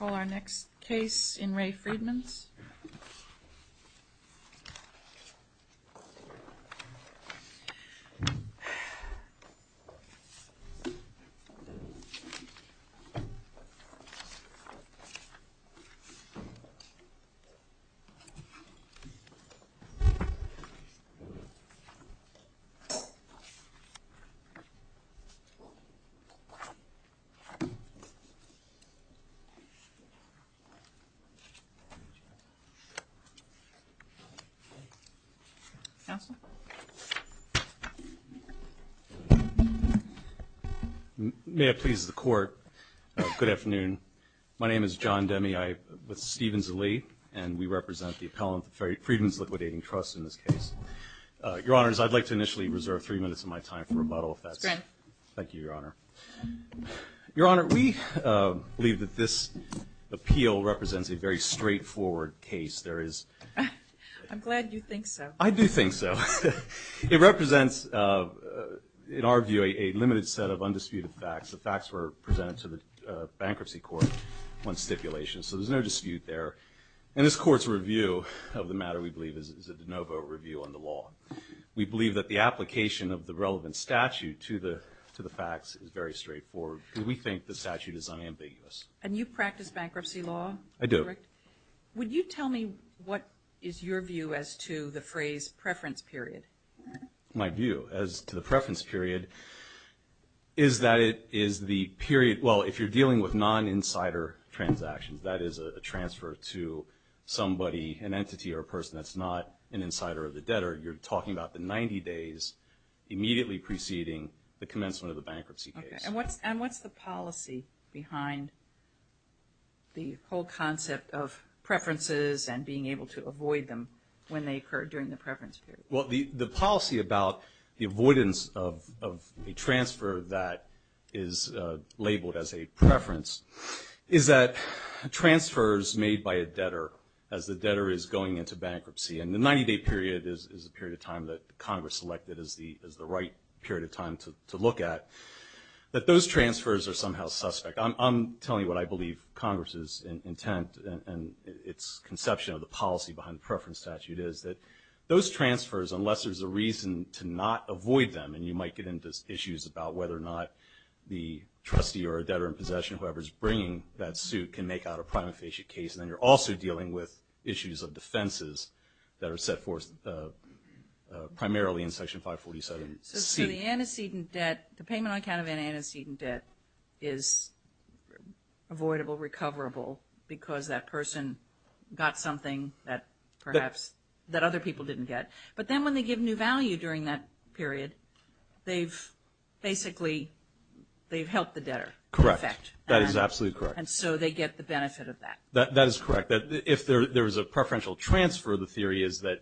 We'll call our next case in Re Friedmans. May I please the court? Good afternoon. My name is John Demme. I'm with Stevens & Lee, and we represent the appellant, the Friedmans Liquidating Trust, in this case. Your Honors, I'd like to initially reserve three minutes of my time for rebuttal, if that's okay. Thank you, Your Honor. Your Honor, we believe that this appeal represents a very straightforward case. I'm glad you think so. I do think so. It represents, in our view, a limited set of undisputed facts. The facts were presented to the Bankruptcy Court on stipulation, so there's no dispute there. And this Court's review of the matter, we believe, is a de very straightforward, because we think the statute is unambiguous. And you practice bankruptcy law? I do. Would you tell me what is your view as to the phrase, preference period? My view as to the preference period is that it is the period, well, if you're dealing with non-insider transactions, that is a transfer to somebody, an entity or a person that's not an insider or the debtor, you're talking about the 90 days immediately preceding the commencement of the bankruptcy case. Okay. And what's the policy behind the whole concept of preferences and being able to avoid them when they occur during the preference period? Well, the policy about the avoidance of a transfer that is labeled as a preference is that a transfer is made by a debtor as the debtor is going into bankruptcy. And the 90-day period is the period of time that Congress selected as the right period of time to look at. But those transfers are somehow suspect. I'm telling you what I believe Congress's intent and its conception of the policy behind the preference statute is that those transfers, unless there's a reason to not avoid them, and you might get into issues about whether or not the trustee or a debtor in possession, whoever's bringing that suit, can make out a prima facie case. And then you're also dealing with issues of defenses that are set forth primarily in Section 547. So the antecedent debt, the payment on account of an antecedent debt is avoidable, recoverable, because that person got something that perhaps, that other people didn't get. But then when they give new value during that period, they've basically, they've helped the debtor. Correct. That is absolutely correct. And so they get the benefit of that. That is correct. If there is a preferential transfer, the theory is that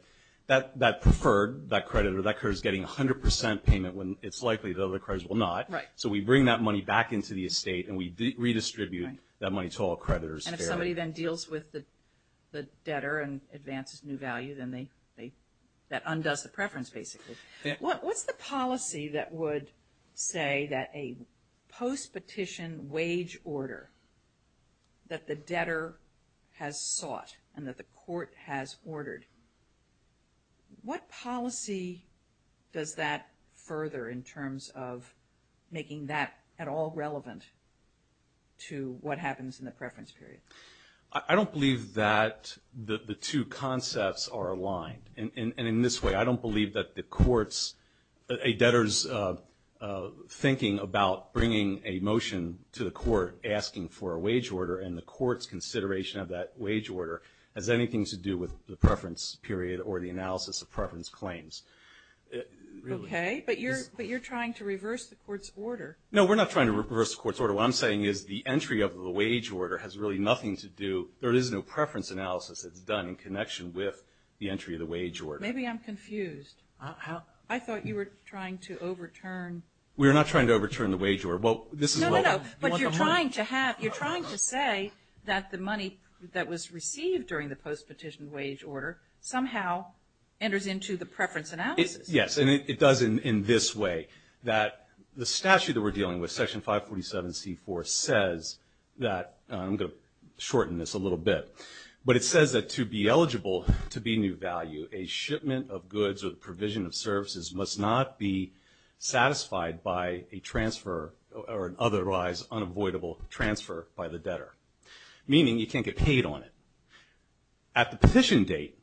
that preferred, that creditor, that creditor is getting 100% payment when it's likely the other creditors will not. So we bring that money back into the estate and we redistribute that money to all creditors fairly. And if somebody then deals with the debtor and advances new value, then they, that undoes the preference basically. What's the policy that would say that a post-petition wage order that the debtor has sought and that the court has ordered, what policy does that further in terms of making that at all relevant to what happens in the preference period? I don't believe that the two concepts are aligned. And in this way, I don't believe that the courts, a debtor's thinking about bringing a motion to the court asking for a wage order and the court's consideration of that wage order has anything to do with the preference period or the analysis of preference claims. Okay. But you're trying to reverse the court's order. No, we're not trying to reverse the court's order. What I'm saying is the entry of the wage order has really nothing to do, there is no preference analysis that's done in connection with the entry of the wage order. Maybe I'm confused. I thought you were trying to overturn. We're not trying to overturn the wage order. Well, this is what I want to point out. You're trying to say that the money that was received during the post-petition wage order somehow enters into the preference analysis. Yes, and it does in this way, that the statute that we're dealing with, Section 547C4, says that, I'm going to shorten this a little bit, but it says that to be eligible to be new value, a shipment of goods or the provision of services must not be satisfied by a transfer or an otherwise unavoidable transfer by the debtor, meaning you can't get paid on it. At the petition date,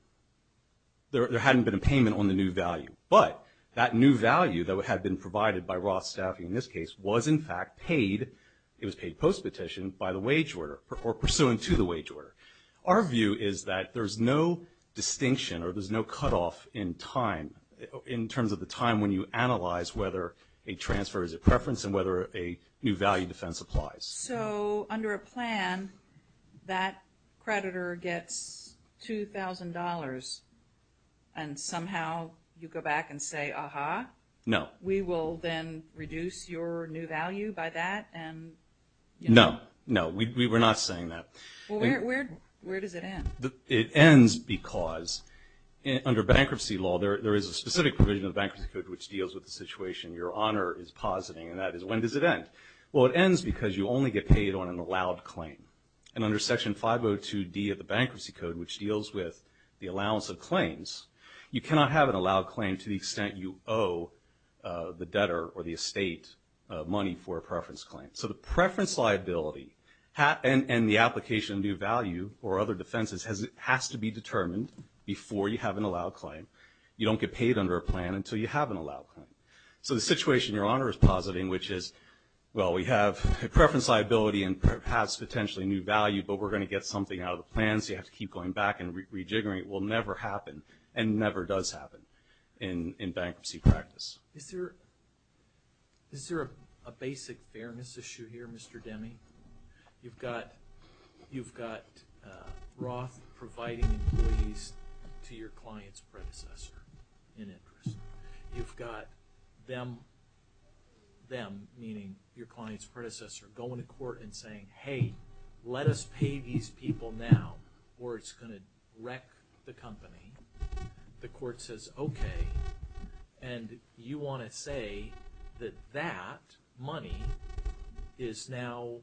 there hadn't been a payment on the new value, but that new value that had been provided by Roth staffing in this case was in fact paid, it was paid post-petition by the wage order or pursuant to the wage order. Our view is that there's no distinction or there's no cutoff in time, in terms of the time when you analyze whether a transfer is a preference and whether a new value defense applies. So, under a plan, that creditor gets $2,000 and somehow you go back and say, aha, we will then reduce your new value by that and, you know. No, no, we're not saying that. Well, where does it end? It ends because under bankruptcy law, there is a specific provision of the Bankruptcy Code which deals with the situation your honor is positing and that is when does it end? Well, it ends because you only get paid on an allowed claim and under Section 502D of the Bankruptcy Code, which deals with the allowance of claims, you cannot have an allowed claim to the extent you owe the debtor or the estate money for a preference claim. So the preference liability and the application of new value or other defenses has to be determined before you have an allowed claim. You don't get paid under a plan until you have an allowed claim. So the situation your honor is positing, which is, well, we have a preference liability and perhaps potentially new value, but we're going to get something out of the plan, so you have to keep going back and rejiggering it, will never happen and never does happen in bankruptcy practice. Is there a basic fairness issue here, Mr. Demme? You've got Roth providing employees to your client's predecessor in interest. You've got them, meaning your client's predecessor, going to court and saying, hey, let us pay these people now or it's going to wreck the company. The court says, okay, and you want to say that that money is now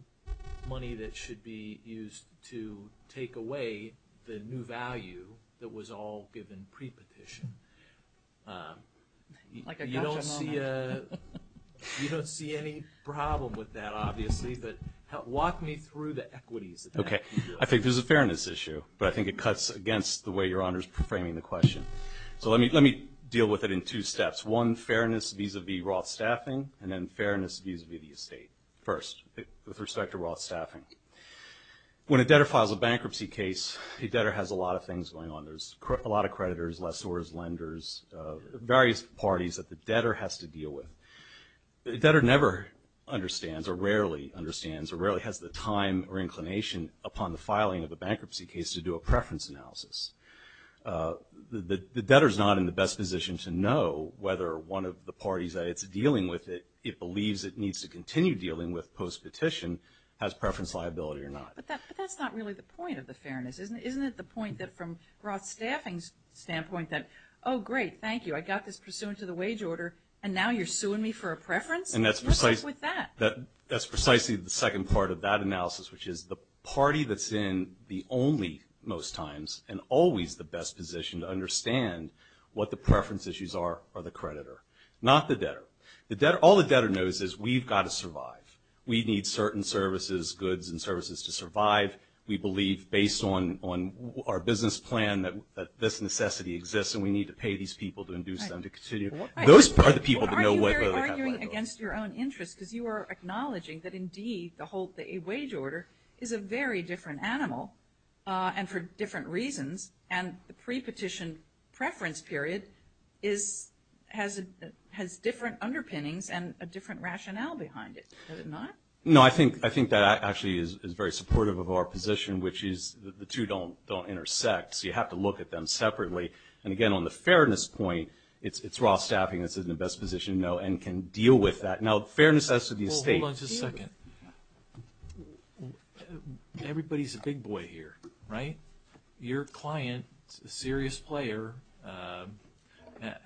money that should be used to take away the new value that was all given pre-petition. You don't see any problem with that, obviously, but walk me through the equities of that. I think there's a fairness issue, but I think it cuts against the way your honor's framing the question. So let me deal with it in two steps. One, fairness vis-a-vis Roth staffing, and then fairness vis-a-vis the estate, first, with respect to Roth staffing. When a debtor files a bankruptcy case, a debtor has a lot of things going on. There's a lot of creditors, lessors, lenders, various parties that the debtor has to deal with. The debtor never understands or rarely understands or rarely has the time or inclination upon the filing of a bankruptcy case to do a preference analysis. The debtor's not in the best position to know whether one of the parties that it's dealing with that it believes it needs to continue dealing with post-petition has preference liability or not. But that's not really the point of the fairness. Isn't it the point that from Roth staffing's standpoint that, oh, great, thank you, I got this pursuant to the wage order, and now you're suing me for a preference? And that's precisely the second part of that analysis, which is the party that's in the only most times and always the best position to understand what the preference issues are are the creditor, not the debtor. All the debtor knows is we've got to survive. We need certain services, goods and services to survive. We believe based on our business plan that this necessity exists, and we need to pay these people to induce them to continue. Those are the people that know whether they have liability. Well, aren't you very arguing against your own interests, because you are acknowledging that, indeed, the whole wage order is a very different animal and for different reasons, and the pre-petition preference period has different underpinnings and a different rationale behind it. Has it not? No. I think that actually is very supportive of our position, which is the two don't intersect, so you have to look at them separately. And again, on the fairness point, it's raw staffing that's in the best position to know and can deal with that. Now, fairness as to the estate... Well, hold on just a second. Everybody's a big boy here, right? Your client, a serious player,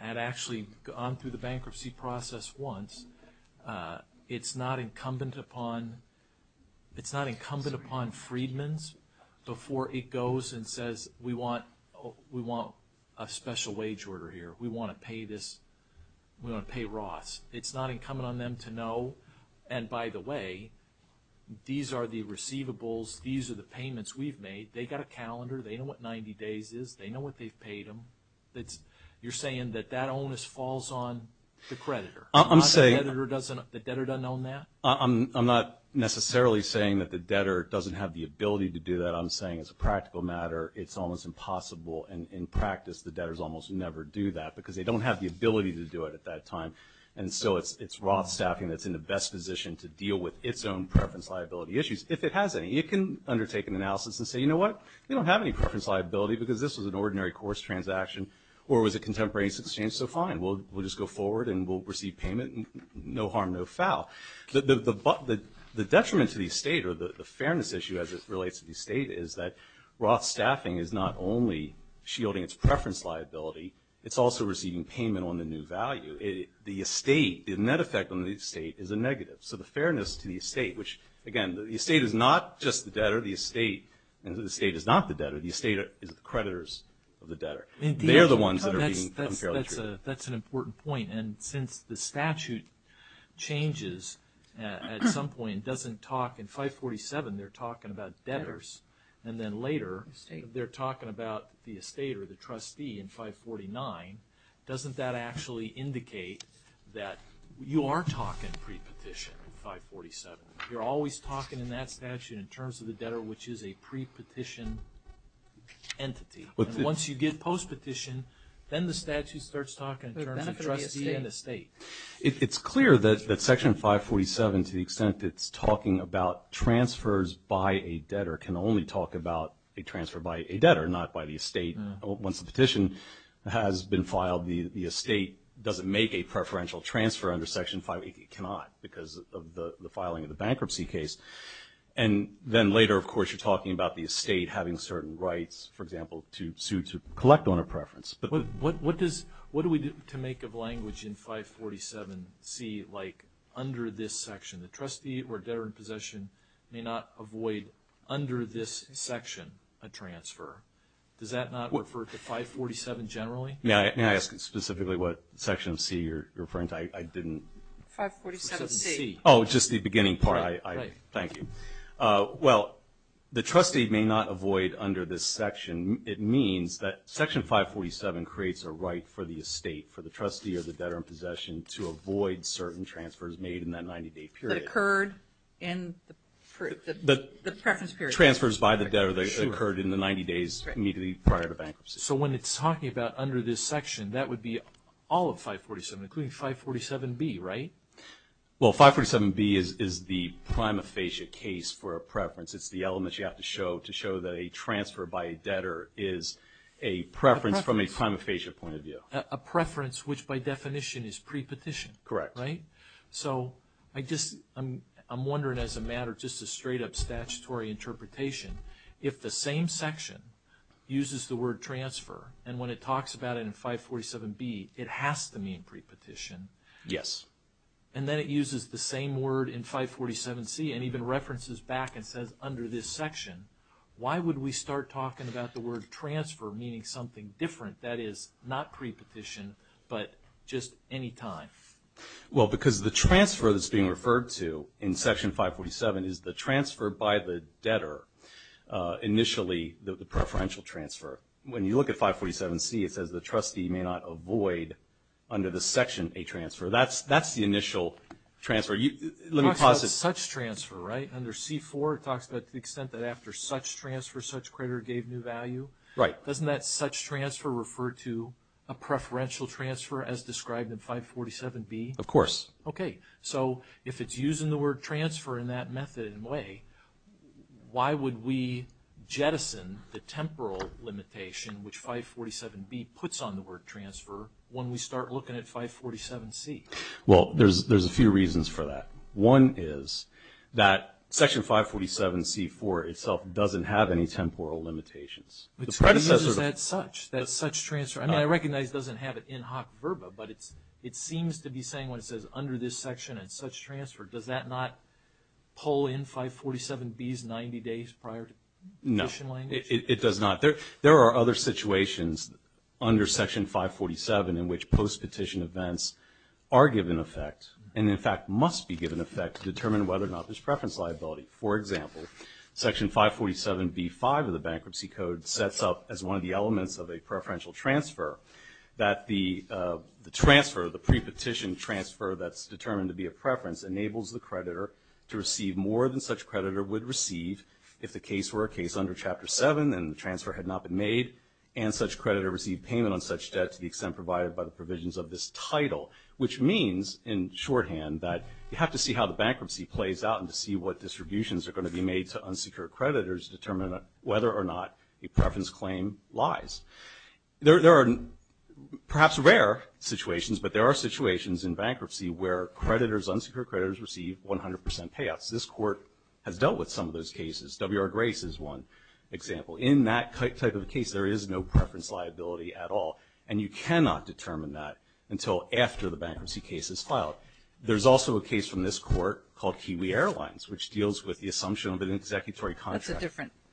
had actually gone through the bankruptcy process once. It's not incumbent upon Freedman's before it goes and says, we want a special wage order here. We want to pay this. We want to pay Roths. It's not incumbent on them to know, and by the way, these are the receivables, these are the payments we've made. They've got a calendar. They know what 90 days is. They know what they've paid them. You're saying that that onus falls on the creditor. I'm not necessarily saying that the debtor doesn't have the ability to do that. I'm saying as a practical matter, it's almost impossible, and in practice, the debtors almost never do that because they don't have the ability to do it at that time. And so it's Roth staffing that's in the best position to deal with its own preference liability issues. If it has any, it can undertake an analysis and say, you know what, we don't have any preference liability because this was an ordinary course transaction or was a contemporary exchange, so fine. We'll just go forward and we'll receive payment, and no harm, no foul. The detriment to the estate or the fairness issue as it relates to the estate is that Roth staffing is not only shielding its preference liability, it's also receiving payment on the new value. The estate, the net effect on the estate is a negative. So the fairness to the estate, which again, the estate is not just the debtor. The estate is not the debtor. The estate is the creditors of the debtor. They're the ones that are being unfairly treated. That's an important point. And since the statute changes at some point and doesn't talk, in 547, they're talking about debtors, and then later they're talking about the estate or the trustee in 549, doesn't that actually indicate that you are talking pre-petition in 547? You're always talking in that statute in terms of the debtor, which is a pre-petition entity. Once you get post-petition, then the statute starts talking in terms of trustee and estate. It's clear that Section 547, to the extent it's talking about transfers by a debtor, can only talk about a transfer by a debtor, not by the estate. Once the petition has been filed, the estate doesn't make a preferential transfer under Section 548. It cannot because of the filing of the bankruptcy case. And then later, of course, you're talking about the estate having certain rights, for to collect on a preference. What do we do to make of language in 547C, like under this section, the trustee or debtor in possession may not avoid, under this section, a transfer? Does that not refer to 547 generally? May I ask specifically what section of C you're referring to? I didn't... 547C. Oh, just the beginning part. Thank you. Well, the trustee may not avoid under this section. It means that Section 547 creates a right for the estate, for the trustee or the debtor in possession, to avoid certain transfers made in that 90-day period. That occurred in the preference period. Transfers by the debtor that occurred in the 90 days immediately prior to bankruptcy. So when it's talking about under this section, that would be all of 547, including 547B, right? Well, 547B is the prima facie case for a preference. It's the element you have to show to show that a transfer by a debtor is a preference from a prima facie point of view. A preference, which by definition is pre-petition. Correct. Right? So, I just, I'm wondering as a matter, just a straight up statutory interpretation, if the same section uses the word transfer, and when it talks about it in 547B, it has to mean pre-petition. Yes. And then it uses the same word in 547C, and even references back and says under this section. Why would we start talking about the word transfer meaning something different, that is not pre-petition, but just any time? Well, because the transfer that's being referred to in section 547 is the transfer by the debtor. Initially the preferential transfer. When you look at 547C, it says the trustee may not avoid under this section a transfer. That's the initial transfer. Let me pause it. It talks about such transfer, right? Under C4 it talks about the extent that after such transfer, such creditor gave new value. Right. Doesn't that such transfer refer to a preferential transfer as described in 547B? Of course. Okay. So, if it's using the word transfer in that method in a way, why would we jettison the Well, there's a few reasons for that. One is that section 547C4 itself doesn't have any temporal limitations. Is that such? That such transfer? I mean, I recognize it doesn't have an in-hoc verba, but it seems to be saying when it says under this section and such transfer, does that not pull in 547B's 90 days prior to petition language? No. It does not. There are other situations under section 547 in which post-petition events are given effect and in fact must be given effect to determine whether or not there's preference liability. For example, section 547B5 of the Bankruptcy Code sets up as one of the elements of a preferential transfer that the transfer, the pre-petition transfer that's determined to be a preference, enables the creditor to receive more than such creditor would receive if the case were a case under Chapter 7 and the transfer had not been made and such creditor received payment on such debt to the extent provided by the provisions of this title, which means in shorthand that you have to see how the bankruptcy plays out and to see what distributions are going to be made to unsecured creditors to determine whether or not a preference claim lies. There are perhaps rare situations, but there are situations in bankruptcy where creditors, unsecured creditors receive 100% payouts. This Court has dealt with some of those cases. W.R. Grace is one example. In that type of case, there is no preference liability at all, and you cannot determine that until after the bankruptcy case is filed. There's also a case from this Court called Kiwi Airlines, which deals with the assumption of an executory contract.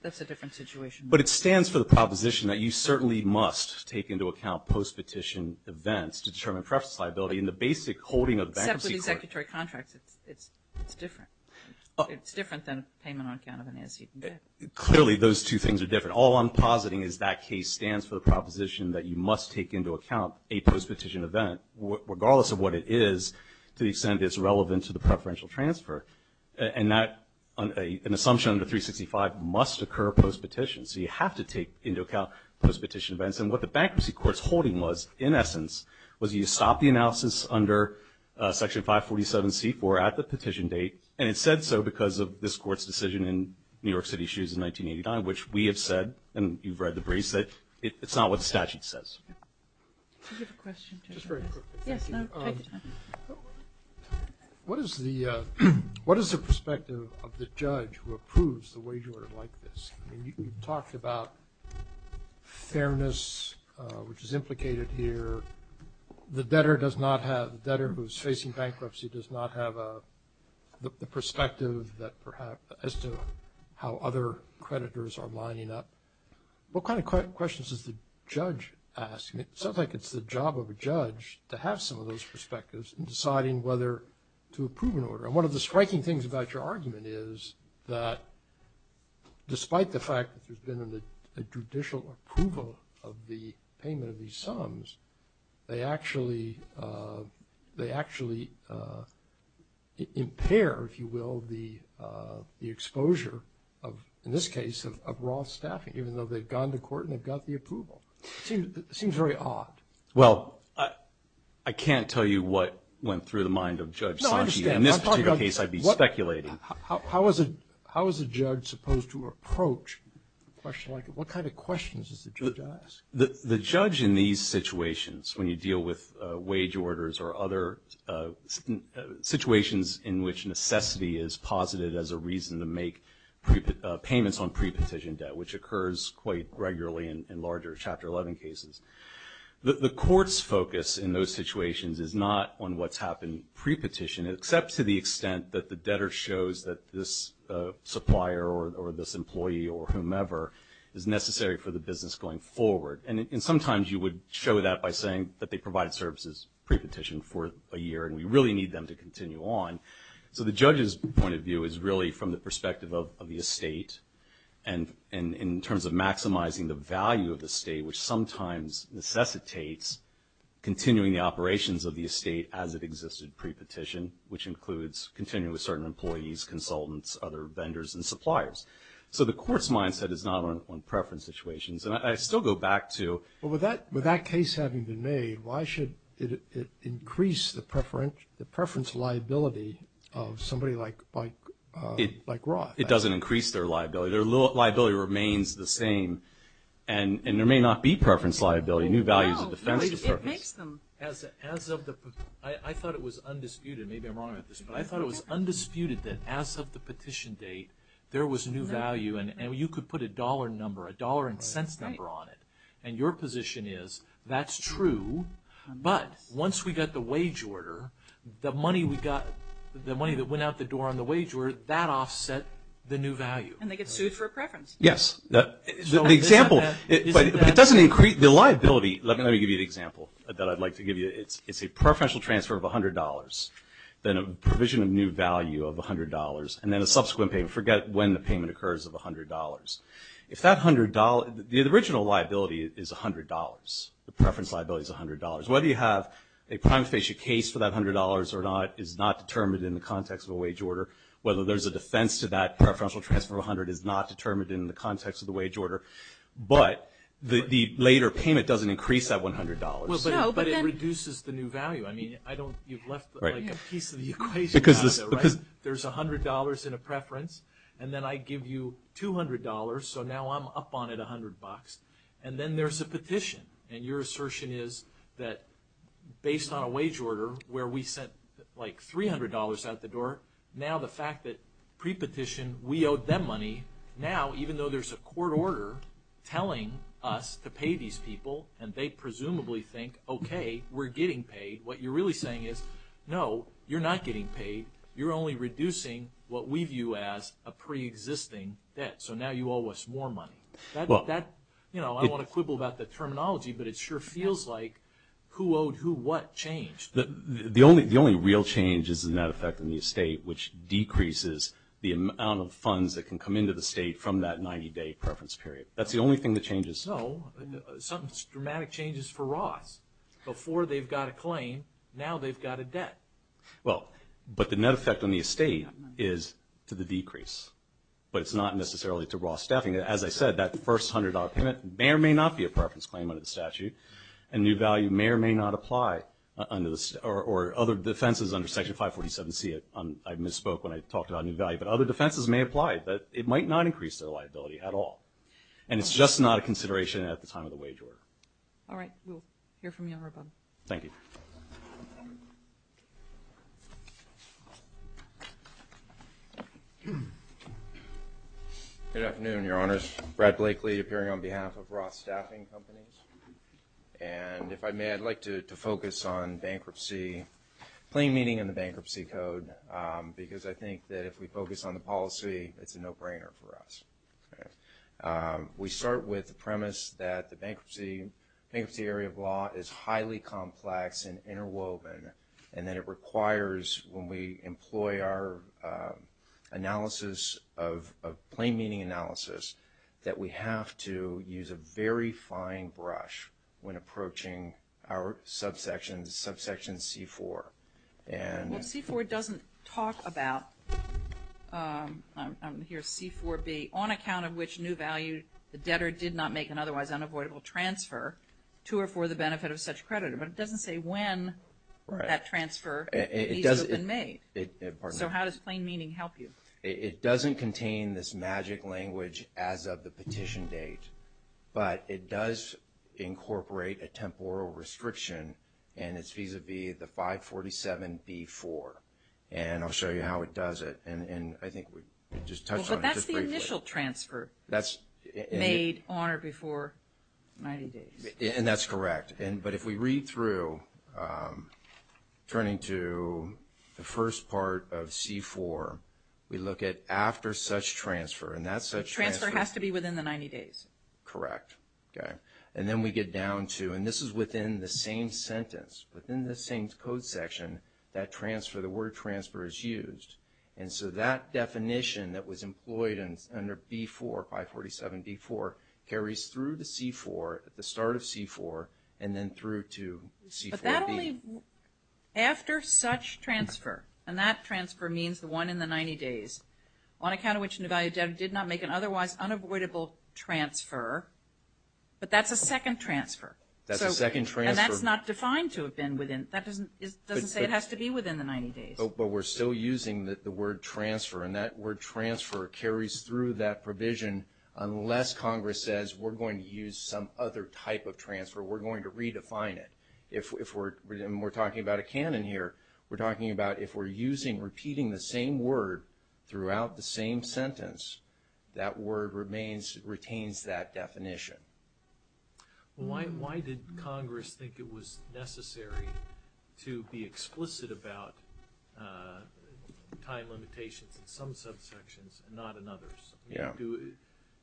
That's a different situation. But it stands for the proposition that you certainly must take into account post-petition events to determine preference liability in the basic holding of the bankruptcy court. Except with the executory contracts, it's different. It's different than payment on account of an antecedent debt. Clearly, those two things are different. All I'm positing is that case stands for the proposition that you must take into account a post-petition event, regardless of what it is, to the extent it's relevant to the preferential transfer. And an assumption under 365 must occur post-petition. So you have to take into account post-petition events. And what the bankruptcy court's holding was, in essence, was you stop the analysis under Section 547C4 at the petition date. And it said so because of this Court's decision in New York City Shoes in 1989, which we have said, and you've read the briefs, that it's not what the statute says. I have a question. Just very quickly. Yes, no, take your time. What is the perspective of the judge who approves the wage order like this? I mean, you talked about fairness, which is implicated here. The debtor does not have, the debtor who's facing bankruptcy does not have the perspective that perhaps, as to how other creditors are lining up. What kind of questions does the judge ask? It sounds like it's the job of a judge to have some of those perspectives in deciding whether to approve an order. And one of the striking things about your argument is that despite the fact that there's been a judicial approval of the payment of these sums, they actually impair, if you will, the exposure of, in this case, of raw staffing, even though they've gone to court and they've got the approval. Seems very odd. Well, I can't tell you what went through the mind of Judge Sanchi. In this particular case, I'd be speculating. How is a judge supposed to approach a question like this? What kind of questions does the judge ask? The judge in these situations, when you deal with wage orders or other situations in which necessity is posited as a reason to make payments on pre-petition debt, which occurs quite regularly in larger Chapter 11 cases. The court's focus in those situations is not on what's happened pre-petition, except to the extent that the debtor shows that this supplier or this employee or whomever is necessary for the business going forward. And sometimes you would show that by saying that they provided services pre-petition for a year and we really need them to continue on. So the judge's point of view is really from the perspective of the estate. And in terms of maximizing the value of the state, which sometimes necessitates continuing the operations of the estate as it existed pre-petition, which includes continuing with certain employees, consultants, other vendors and suppliers. So the court's mindset is not on preference situations. And I still go back to- But with that case having been made, why should it increase the preference liability of somebody like Roth? It doesn't increase their liability. Their liability remains the same. And there may not be preference liability. New value is a defensive purpose. As of the, I thought it was undisputed, maybe I'm wrong about this, but I thought it was undisputed that as of the petition date, there was new value and you could put a dollar number, a dollar and cents number on it. And your position is that's true, but once we got the wage order, the money we got, the money that went out the door on the wage order, that offset the new value. And they get sued for preference. Yes. The example, it doesn't increase the liability. Let me give you an example that I'd like to give you. It's a preferential transfer of $100. Then a provision of new value of $100 and then a subsequent payment. Forget when the payment occurs of $100. If that $100, the original liability is $100. The preference liability is $100. Whether you have a prime facie case for that $100 or not is not determined in the context of a wage order. Whether there's a defense to that preferential transfer of $100 is not determined in the context of the wage order. But the later payment doesn't increase that $100. No, but then. But it reduces the new value. I mean, I don't, you've left like a piece of the equation out of there, right? There's $100 in a preference and then I give you $200. So now I'm up on it $100. And then there's a petition. And your assertion is that based on a wage order where we sent like $300 out the door, now the fact that pre-petition, we owed them money. Now, even though there's a court order telling us to pay these people, and they presumably think, okay, we're getting paid. What you're really saying is, no, you're not getting paid. You're only reducing what we view as a pre-existing debt. So now you owe us more money. That, you know, I don't want to quibble about the terminology, but it sure feels like who owed who what changed. The only real change is in that effect in the estate, which decreases the amount of funds that can come into the state from that 90-day preference period. That's the only thing that changes. No, some dramatic changes for Ross. Before they've got a claim, now they've got a debt. Well, but the net effect on the estate is to the decrease. But it's not necessarily to Ross staffing. As I said, that first $100 payment may or may not be a preference claim under the statute, and new value may or may not apply under the, or other defenses under Section 547C, I misspoke when I talked about new value. But other defenses may apply, but it might not increase their liability at all. And it's just not a consideration at the time of the wage order. All right, we'll hear from you on Rebun. Thank you. Good afternoon, your honors. Brad Blakely, appearing on behalf of Ross Staffing Companies, and if I may, I'd like to focus on bankruptcy, plain meaning in the bankruptcy code. Because I think that if we focus on the policy, it's a no-brainer for us. We start with the premise that the bankruptcy area of law is highly complex and interwoven, and that it requires, when we employ our analysis of plain meaning analysis, that we have to use a very fine brush when approaching our subsection, subsection C4, and- Well, C4 doesn't talk about, here's C4B, on account of which new value, the debtor did not make an otherwise unavoidable transfer to or for the benefit of such creditor. But it doesn't say when that transfer needs to have been made. It doesn't. So how does plain meaning help you? It doesn't contain this magic language as of the petition date. But it does incorporate a temporal restriction, and it's vis-a-vis the 547B4. And I'll show you how it does it. And I think we just touched on it just briefly. Well, but that's the initial transfer made on or before 90 days. And that's correct. But if we read through, turning to the first part of C4, we look at after such transfer. And that such transfer- Correct. Okay. And then we get down to, and this is within the same sentence, within the same code section, that transfer, the word transfer is used. And so that definition that was employed under B4, 547B4, carries through to C4, at the start of C4, and then through to C4B. But that only, after such transfer, and that transfer means the one in the 90 days, on account of which Nevada did not make an otherwise unavoidable transfer. But that's a second transfer. That's a second transfer. And that's not defined to have been within, that doesn't say it has to be within the 90 days. But we're still using the word transfer. And that word transfer carries through that provision, unless Congress says we're going to use some other type of transfer. We're going to redefine it. If we're, and we're talking about a canon here, we're talking about if we're using, repeating the same word throughout the same sentence, that word remains, retains that definition. Why, why did Congress think it was necessary to be explicit about time limitations in some subsections and not in others? Yeah.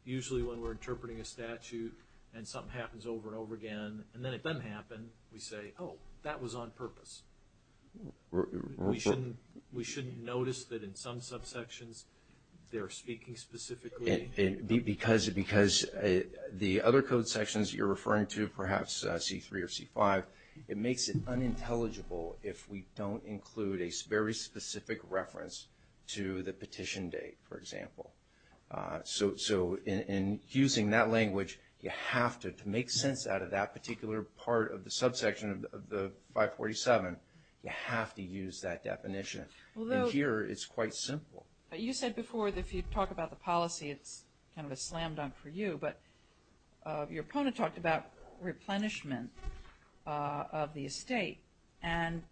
Usually when we're interpreting a statute, and something happens over and over again, and then it doesn't happen, we say, oh, that was on purpose. We shouldn't, we shouldn't notice that in some subsections, they're speaking specifically. Because, because the other code sections you're referring to, perhaps C3 or C5, it makes it unintelligible if we don't include a very specific reference to the petition date, for example. So, so in, in using that language, you have to, to make sense out of that and you have to use that definition. Although. And here, it's quite simple. You said before that if you talk about the policy, it's kind of a slam dunk for you. But your opponent talked about replenishment of the estate. And,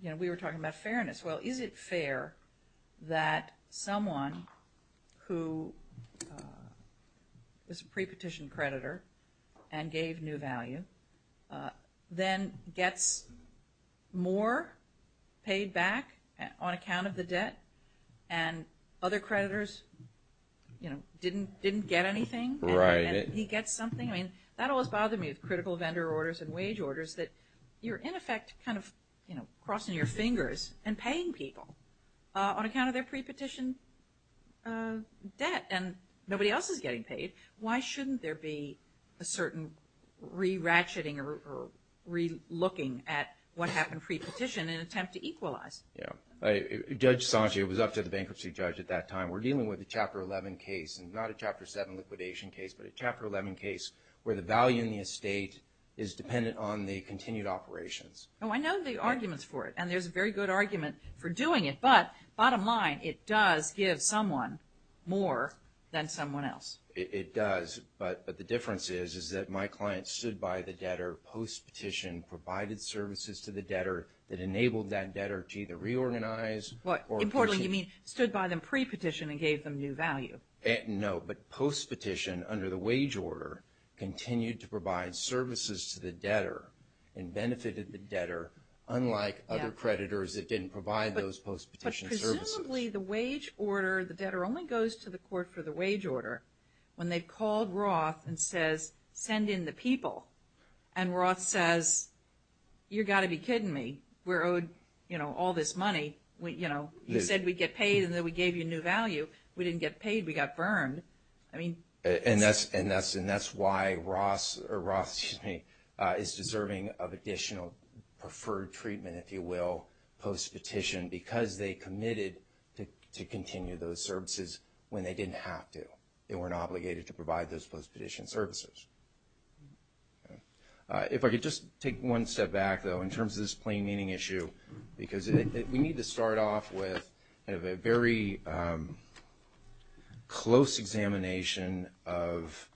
you know, we were talking about fairness. Well, is it fair that someone who is a pre-petition creditor and gave new value, pre-petition, then gets more paid back on account of the debt? And other creditors, you know, didn't, didn't get anything? Right. And he gets something? I mean, that always bothered me with critical vendor orders and wage orders, that you're in effect kind of, you know, crossing your fingers and paying people on account of their pre-petition debt. And nobody else is getting paid. Why shouldn't there be a certain re-ratcheting or, or re-looking at what happened pre-petition in an attempt to equalize? Yeah. Judge Sanche, it was up to the bankruptcy judge at that time. We're dealing with a Chapter 11 case, and not a Chapter 7 liquidation case, but a Chapter 11 case where the value in the estate is dependent on the continued operations. Oh, I know the arguments for it. And there's a very good argument for doing it. But, bottom line, it does give someone more than someone else. It does. But, but the difference is, is that my client stood by the debtor post-petition, provided services to the debtor that enabled that debtor to either reorganize or Importantly, you mean stood by them pre-petition and gave them new value? No. But post-petition, under the wage order, continued to provide services to the debtor and benefited the debtor, unlike other creditors that didn't provide those post-petition services. Presumably, the wage order, the debtor only goes to the court for the wage order when they've called Roth and says, send in the people. And Roth says, you gotta be kidding me. We're owed, you know, all this money. We, you know, you said we'd get paid and then we gave you new value. We didn't get paid, we got burned. I mean. And that's, and that's, and that's why Roth, or Roth, excuse me, is deserving of additional preferred treatment, if you will, post-petition. Because they committed to, to continue those services when they didn't have to. They weren't obligated to provide those post-petition services. If I could just take one step back though, in terms of this plain meaning issue. Because it, it, we need to start off with, kind of a very, close examination of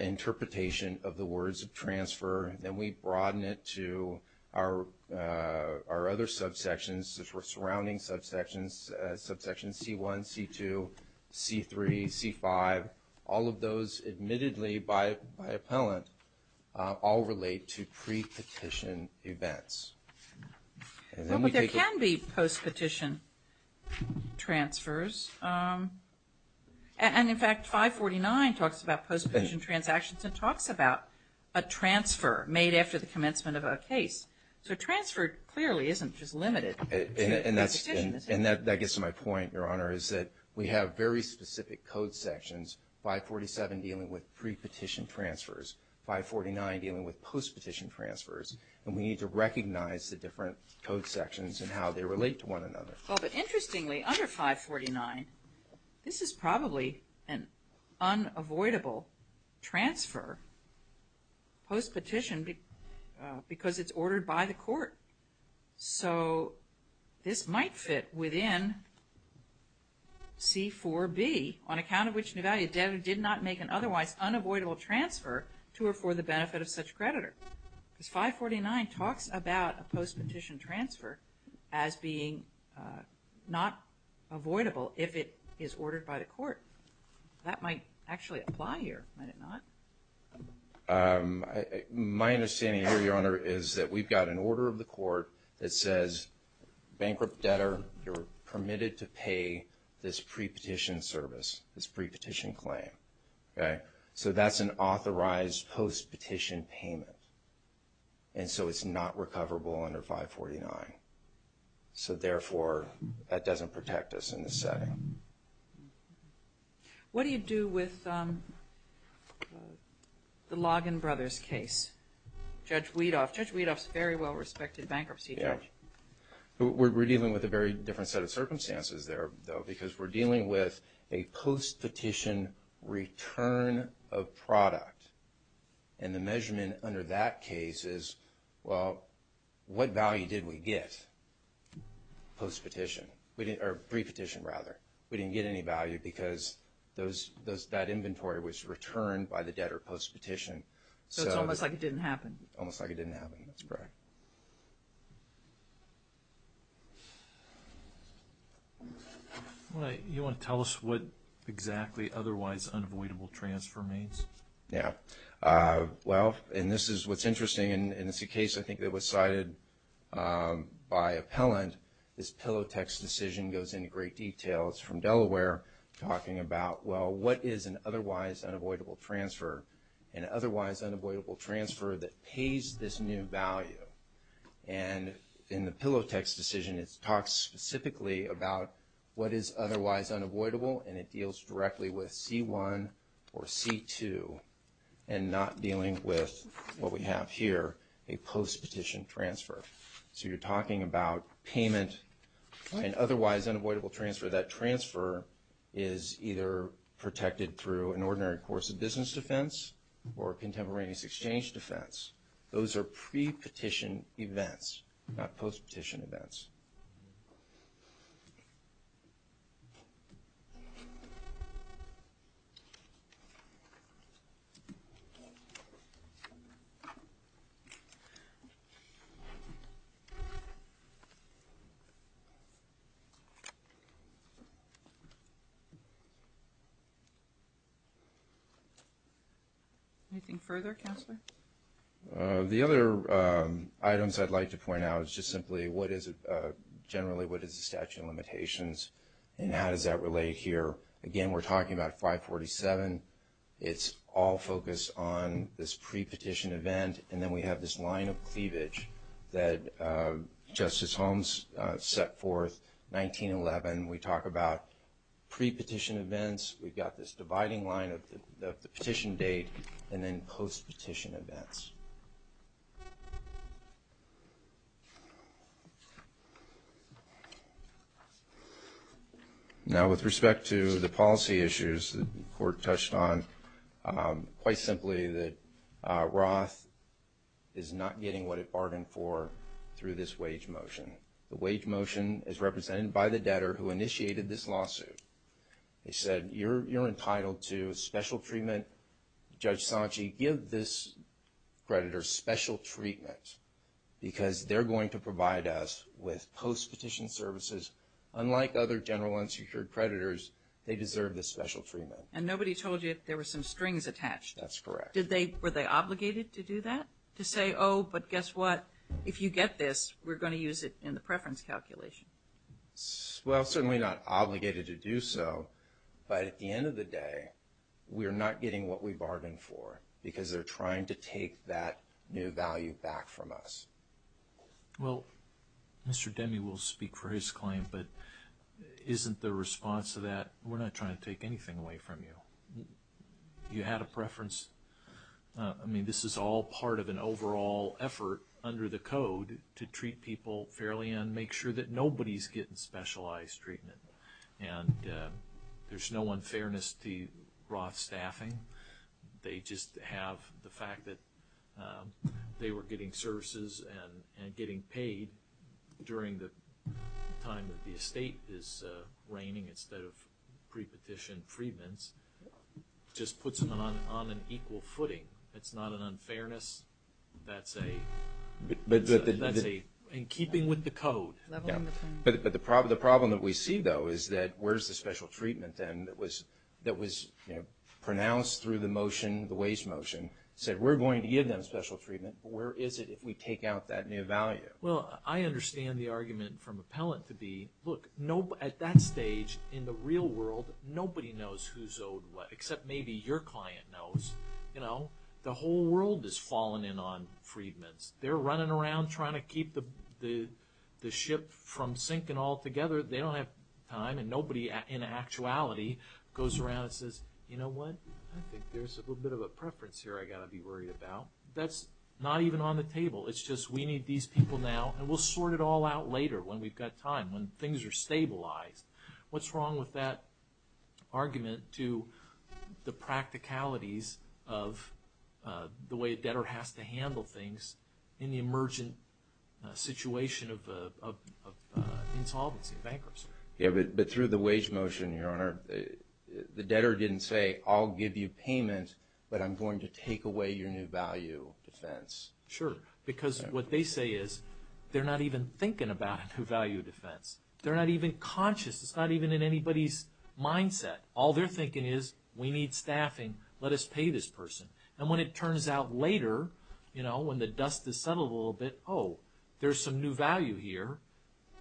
interpretation of the words of transfer. Then we broaden it to our, our other subsections, the surrounding subsections, subsection C1, C2, C3, C5. All of those admittedly by, by appellant all relate to pre-petition events. And then we take a- Well, but there can be post-petition transfers. And, and in fact, 549 talks about post-petition transactions and talks about a transfer made after the commencement of a case. So a transfer clearly isn't just limited to a petition, is it? And that, that gets to my point, your honor, is that we have very specific code sections, 547 dealing with pre-petition transfers, 549 dealing with post-petition transfers, and we need to recognize the different code sections and how they relate to one another. Well, but interestingly, under 549, this is probably an unavoidable transfer post-petition because it's ordered by the court. So this might fit within C4B, on account of which Nevali did not make an otherwise unavoidable transfer to or for the benefit of such creditor. Because 549 talks about a post-petition transfer as being not avoidable if it is ordered by the court. That might actually apply here, might it not? My understanding here, your honor, is that we've got an order of the court that says bankrupt debtor, you're permitted to pay this pre-petition service, this pre-petition claim, okay? So that's an authorized post-petition payment. And so it's not recoverable under 549. So therefore, that doesn't protect us in this setting. What do you do with the Loggin Brothers case? Judge Weedoff. Judge Weedoff's a very well-respected bankruptcy judge. Yeah. We're dealing with a very different set of circumstances there, though, because we're dealing with a post-petition return of product. And the measurement under that case is, well, what value did we get post-petition? We didn't, or pre-petition, rather. We didn't get any value because that inventory was returned by the debtor post-petition. So it's almost like it didn't happen. Almost like it didn't happen, that's correct. You want to tell us what exactly otherwise unavoidable transfer means? Yeah. Well, and this is what's interesting, and it's a case, I think, that was cited by appellant. This Pillow Text decision goes into great detail. It's from Delaware, talking about, well, what is an otherwise unavoidable transfer? An otherwise unavoidable transfer that pays this new value. And in the Pillow Text decision, it talks specifically about what is otherwise unavoidable, and it deals directly with C1 or C2, and not dealing with what we have here, a post-petition transfer. So you're talking about payment and otherwise unavoidable transfer. That transfer is either protected through an ordinary course of business defense or a contemporaneous exchange defense. Those are pre-petition events, not post-petition events. Anything further, Counselor? The other items I'd like to point out is just simply what is it, generally, what is the statute of limitations, and how does that relate here? Again, we're talking about 547. It's all focused on this pre-petition event, and then we have this line of cleavage that Justice Holmes set forth, 1911. We talk about pre-petition events. We've got this dividing line of the petition date, and then post-petition events. Now, with respect to the policy issues the Court touched on, quite simply that Roth is not getting what it bargained for through this wage motion. The wage motion is represented by the debtor who initiated this lawsuit. They said, you're entitled to special treatment. Judge Sanchi, give this creditor special treatment because they're going to provide us with post-petition services unlike other general unsecured creditors. They deserve this special treatment. And nobody told you there were some strings attached. That's correct. Did they, were they obligated to do that? To say, oh, but guess what? If you get this, we're going to use it in the preference calculation. Well, certainly not obligated to do so, but at the end of the day, we're not getting what we bargained for because they're trying to take that new value back from us. Well, Mr. Demme will speak for his claim, but isn't the response to that, we're not trying to take anything away from you. You had a preference. I mean, this is all part of an overall effort under the Code to treat people fairly and make sure that nobody's getting specialized treatment. And there's no unfairness to Roth's staffing. They just have the fact that they were getting services and getting paid during the time that the estate is reigning instead of pre-petition freedments just puts them on an equal footing. It's not an unfairness. That's a... in keeping with the Code. But the problem that we see, though, is that where's the special treatment then that was pronounced through the motion, the wage motion, said we're going to give them special treatment, but where is it if we take out that new value? Well, I understand the argument from appellant to be, look, at that stage in the real world, nobody knows who's owed what, except maybe your client knows. You know, the whole world is falling in on freedments. They're running around trying to keep the ship from sinking altogether. They don't have time, and nobody in actuality goes around and says, you know what? I think there's a little bit of a preference here I got to be worried about. That's not even on the table. It's just we need these people now, and we'll sort it all out later when we've got time, when things are stabilized. What's wrong with that argument to the practicalities of the way a debtor has to handle things in the emergent situation of insolvency, bankruptcy? Yeah, but through the wage motion, Your Honor, the debtor didn't say, I'll give you payment, but I'm going to take away your new value defense. Sure, because what they say is they're not even thinking about a new value defense. They're not even conscious. It's not even in anybody's mindset. All they're thinking is, we need staffing. Let us pay this person. And when it turns out later, you know, when the dust has settled a little bit, oh, there's some new value here.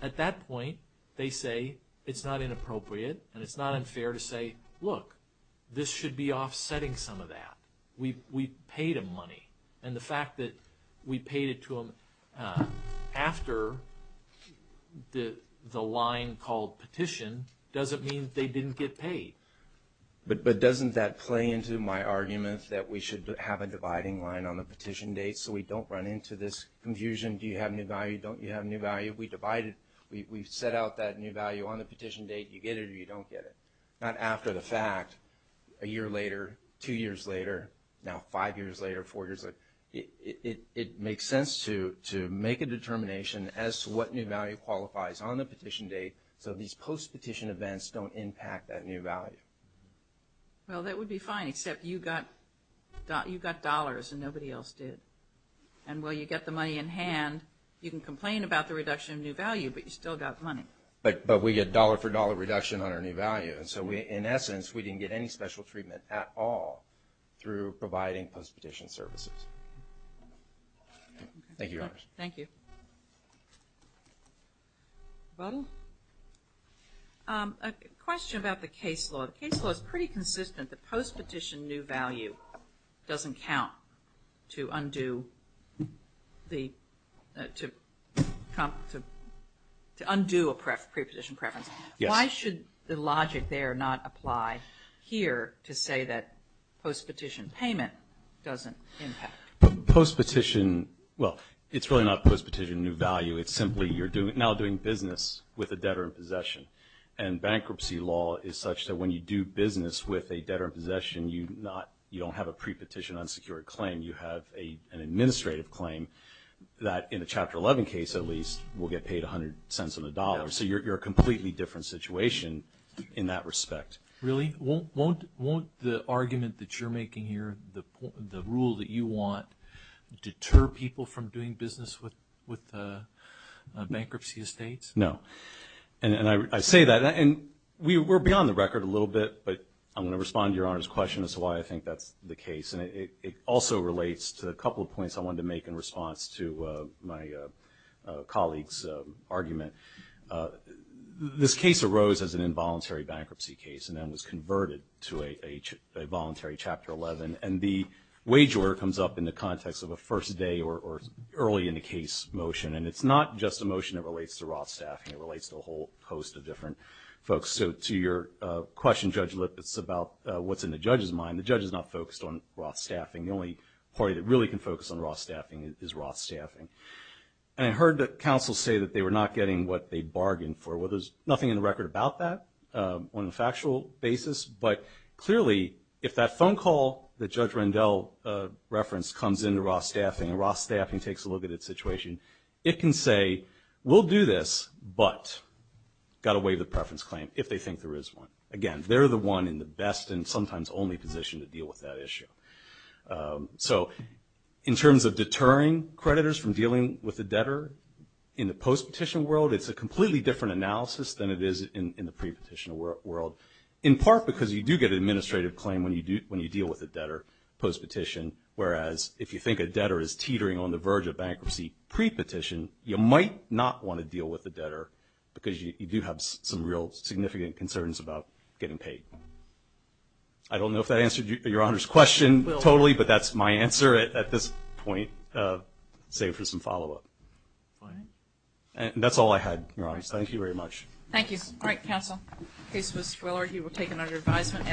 At that point, they say, it's not inappropriate, and it's not unfair to say, look, this should be offsetting some of that. We paid him money. And the fact that we paid it to him after the line called petition doesn't mean they didn't get paid. But doesn't that play into my argument that we should have a dividing line on the petition date so we don't run into this confusion, do you have new value, don't you have new value? We divide it. We've set out that new value on the petition date. You get it or you don't get it. Not after the fact. A year later, two years later, now five years later, four years later. It makes sense to make a determination as to what new value qualifies on the petition date so these post-petition events don't impact that new value. Well, that would be fine, except you got dollars and nobody else did. And while you get the money in hand, you can complain about the reduction of new value, but you still got money. But we get dollar for dollar reduction on our new value. And so, in essence, we didn't get any special treatment at all through providing post-petition services. Thank you, Your Honors. Thank you. Buddle? A question about the case law. The case law is pretty consistent. The post-petition new value doesn't count to undo a prepetition preference. Why should the logic there not apply here to say that post-petition payment doesn't impact? Post-petition, well, it's really not post-petition new value. It's simply you're now doing business with a debtor in possession. And bankruptcy law is such that when you do business with a debtor in possession, you don't have a prepetition unsecured claim. You have an administrative claim that, in a Chapter 11 case at least, will get paid 100 cents on the dollar. So you're a completely different situation in that respect. Really? Won't the argument that you're making here, the rule that you want, deter people from doing business with bankruptcy estates? No. And I say that. And we're beyond the record a little bit. But I'm going to respond to Your Honor's question as to why I think that's the case. And it also relates to a couple of points I wanted to make in response to my colleague's argument. This case arose as an involuntary bankruptcy case and then was converted to a voluntary Chapter 11. And the wager comes up in the context of a first day or early in the case motion. And it's not just a motion that relates to Roth staffing. It relates to a whole host of different folks. So to your question, Judge Lipitz, about what's in the judge's mind, the judge is not focused on Roth staffing. The only party that really can focus on Roth staffing is Roth staffing. And I heard the counsel say that they were not getting what they bargained for. Well, there's nothing in the record about that on a factual basis. But clearly, if that phone call that Judge Rendell referenced comes into Roth staffing and Roth staffing takes a look at its situation, it can say, we'll do this, but got to waive the preference claim if they think there is one. Again, they're the one in the best and sometimes only position to deal with that issue. So in terms of deterring creditors from dealing with a debtor in the post-petition world, it's a completely different analysis than it is in the pre-petition world. In part because you do get an administrative claim when you deal with a debtor post-petition, whereas if you think a debtor is teetering on the verge of bankruptcy pre-petition, you might not want to deal with the debtor because you do have some real significant concerns about getting paid. I don't know if that answered Your Honor's question totally, but that's my answer at this point, save for some follow-up. And that's all I had, Your Honor. Thank you very much. Thank you. All right, counsel. The case was Willard. He was taken under advisement.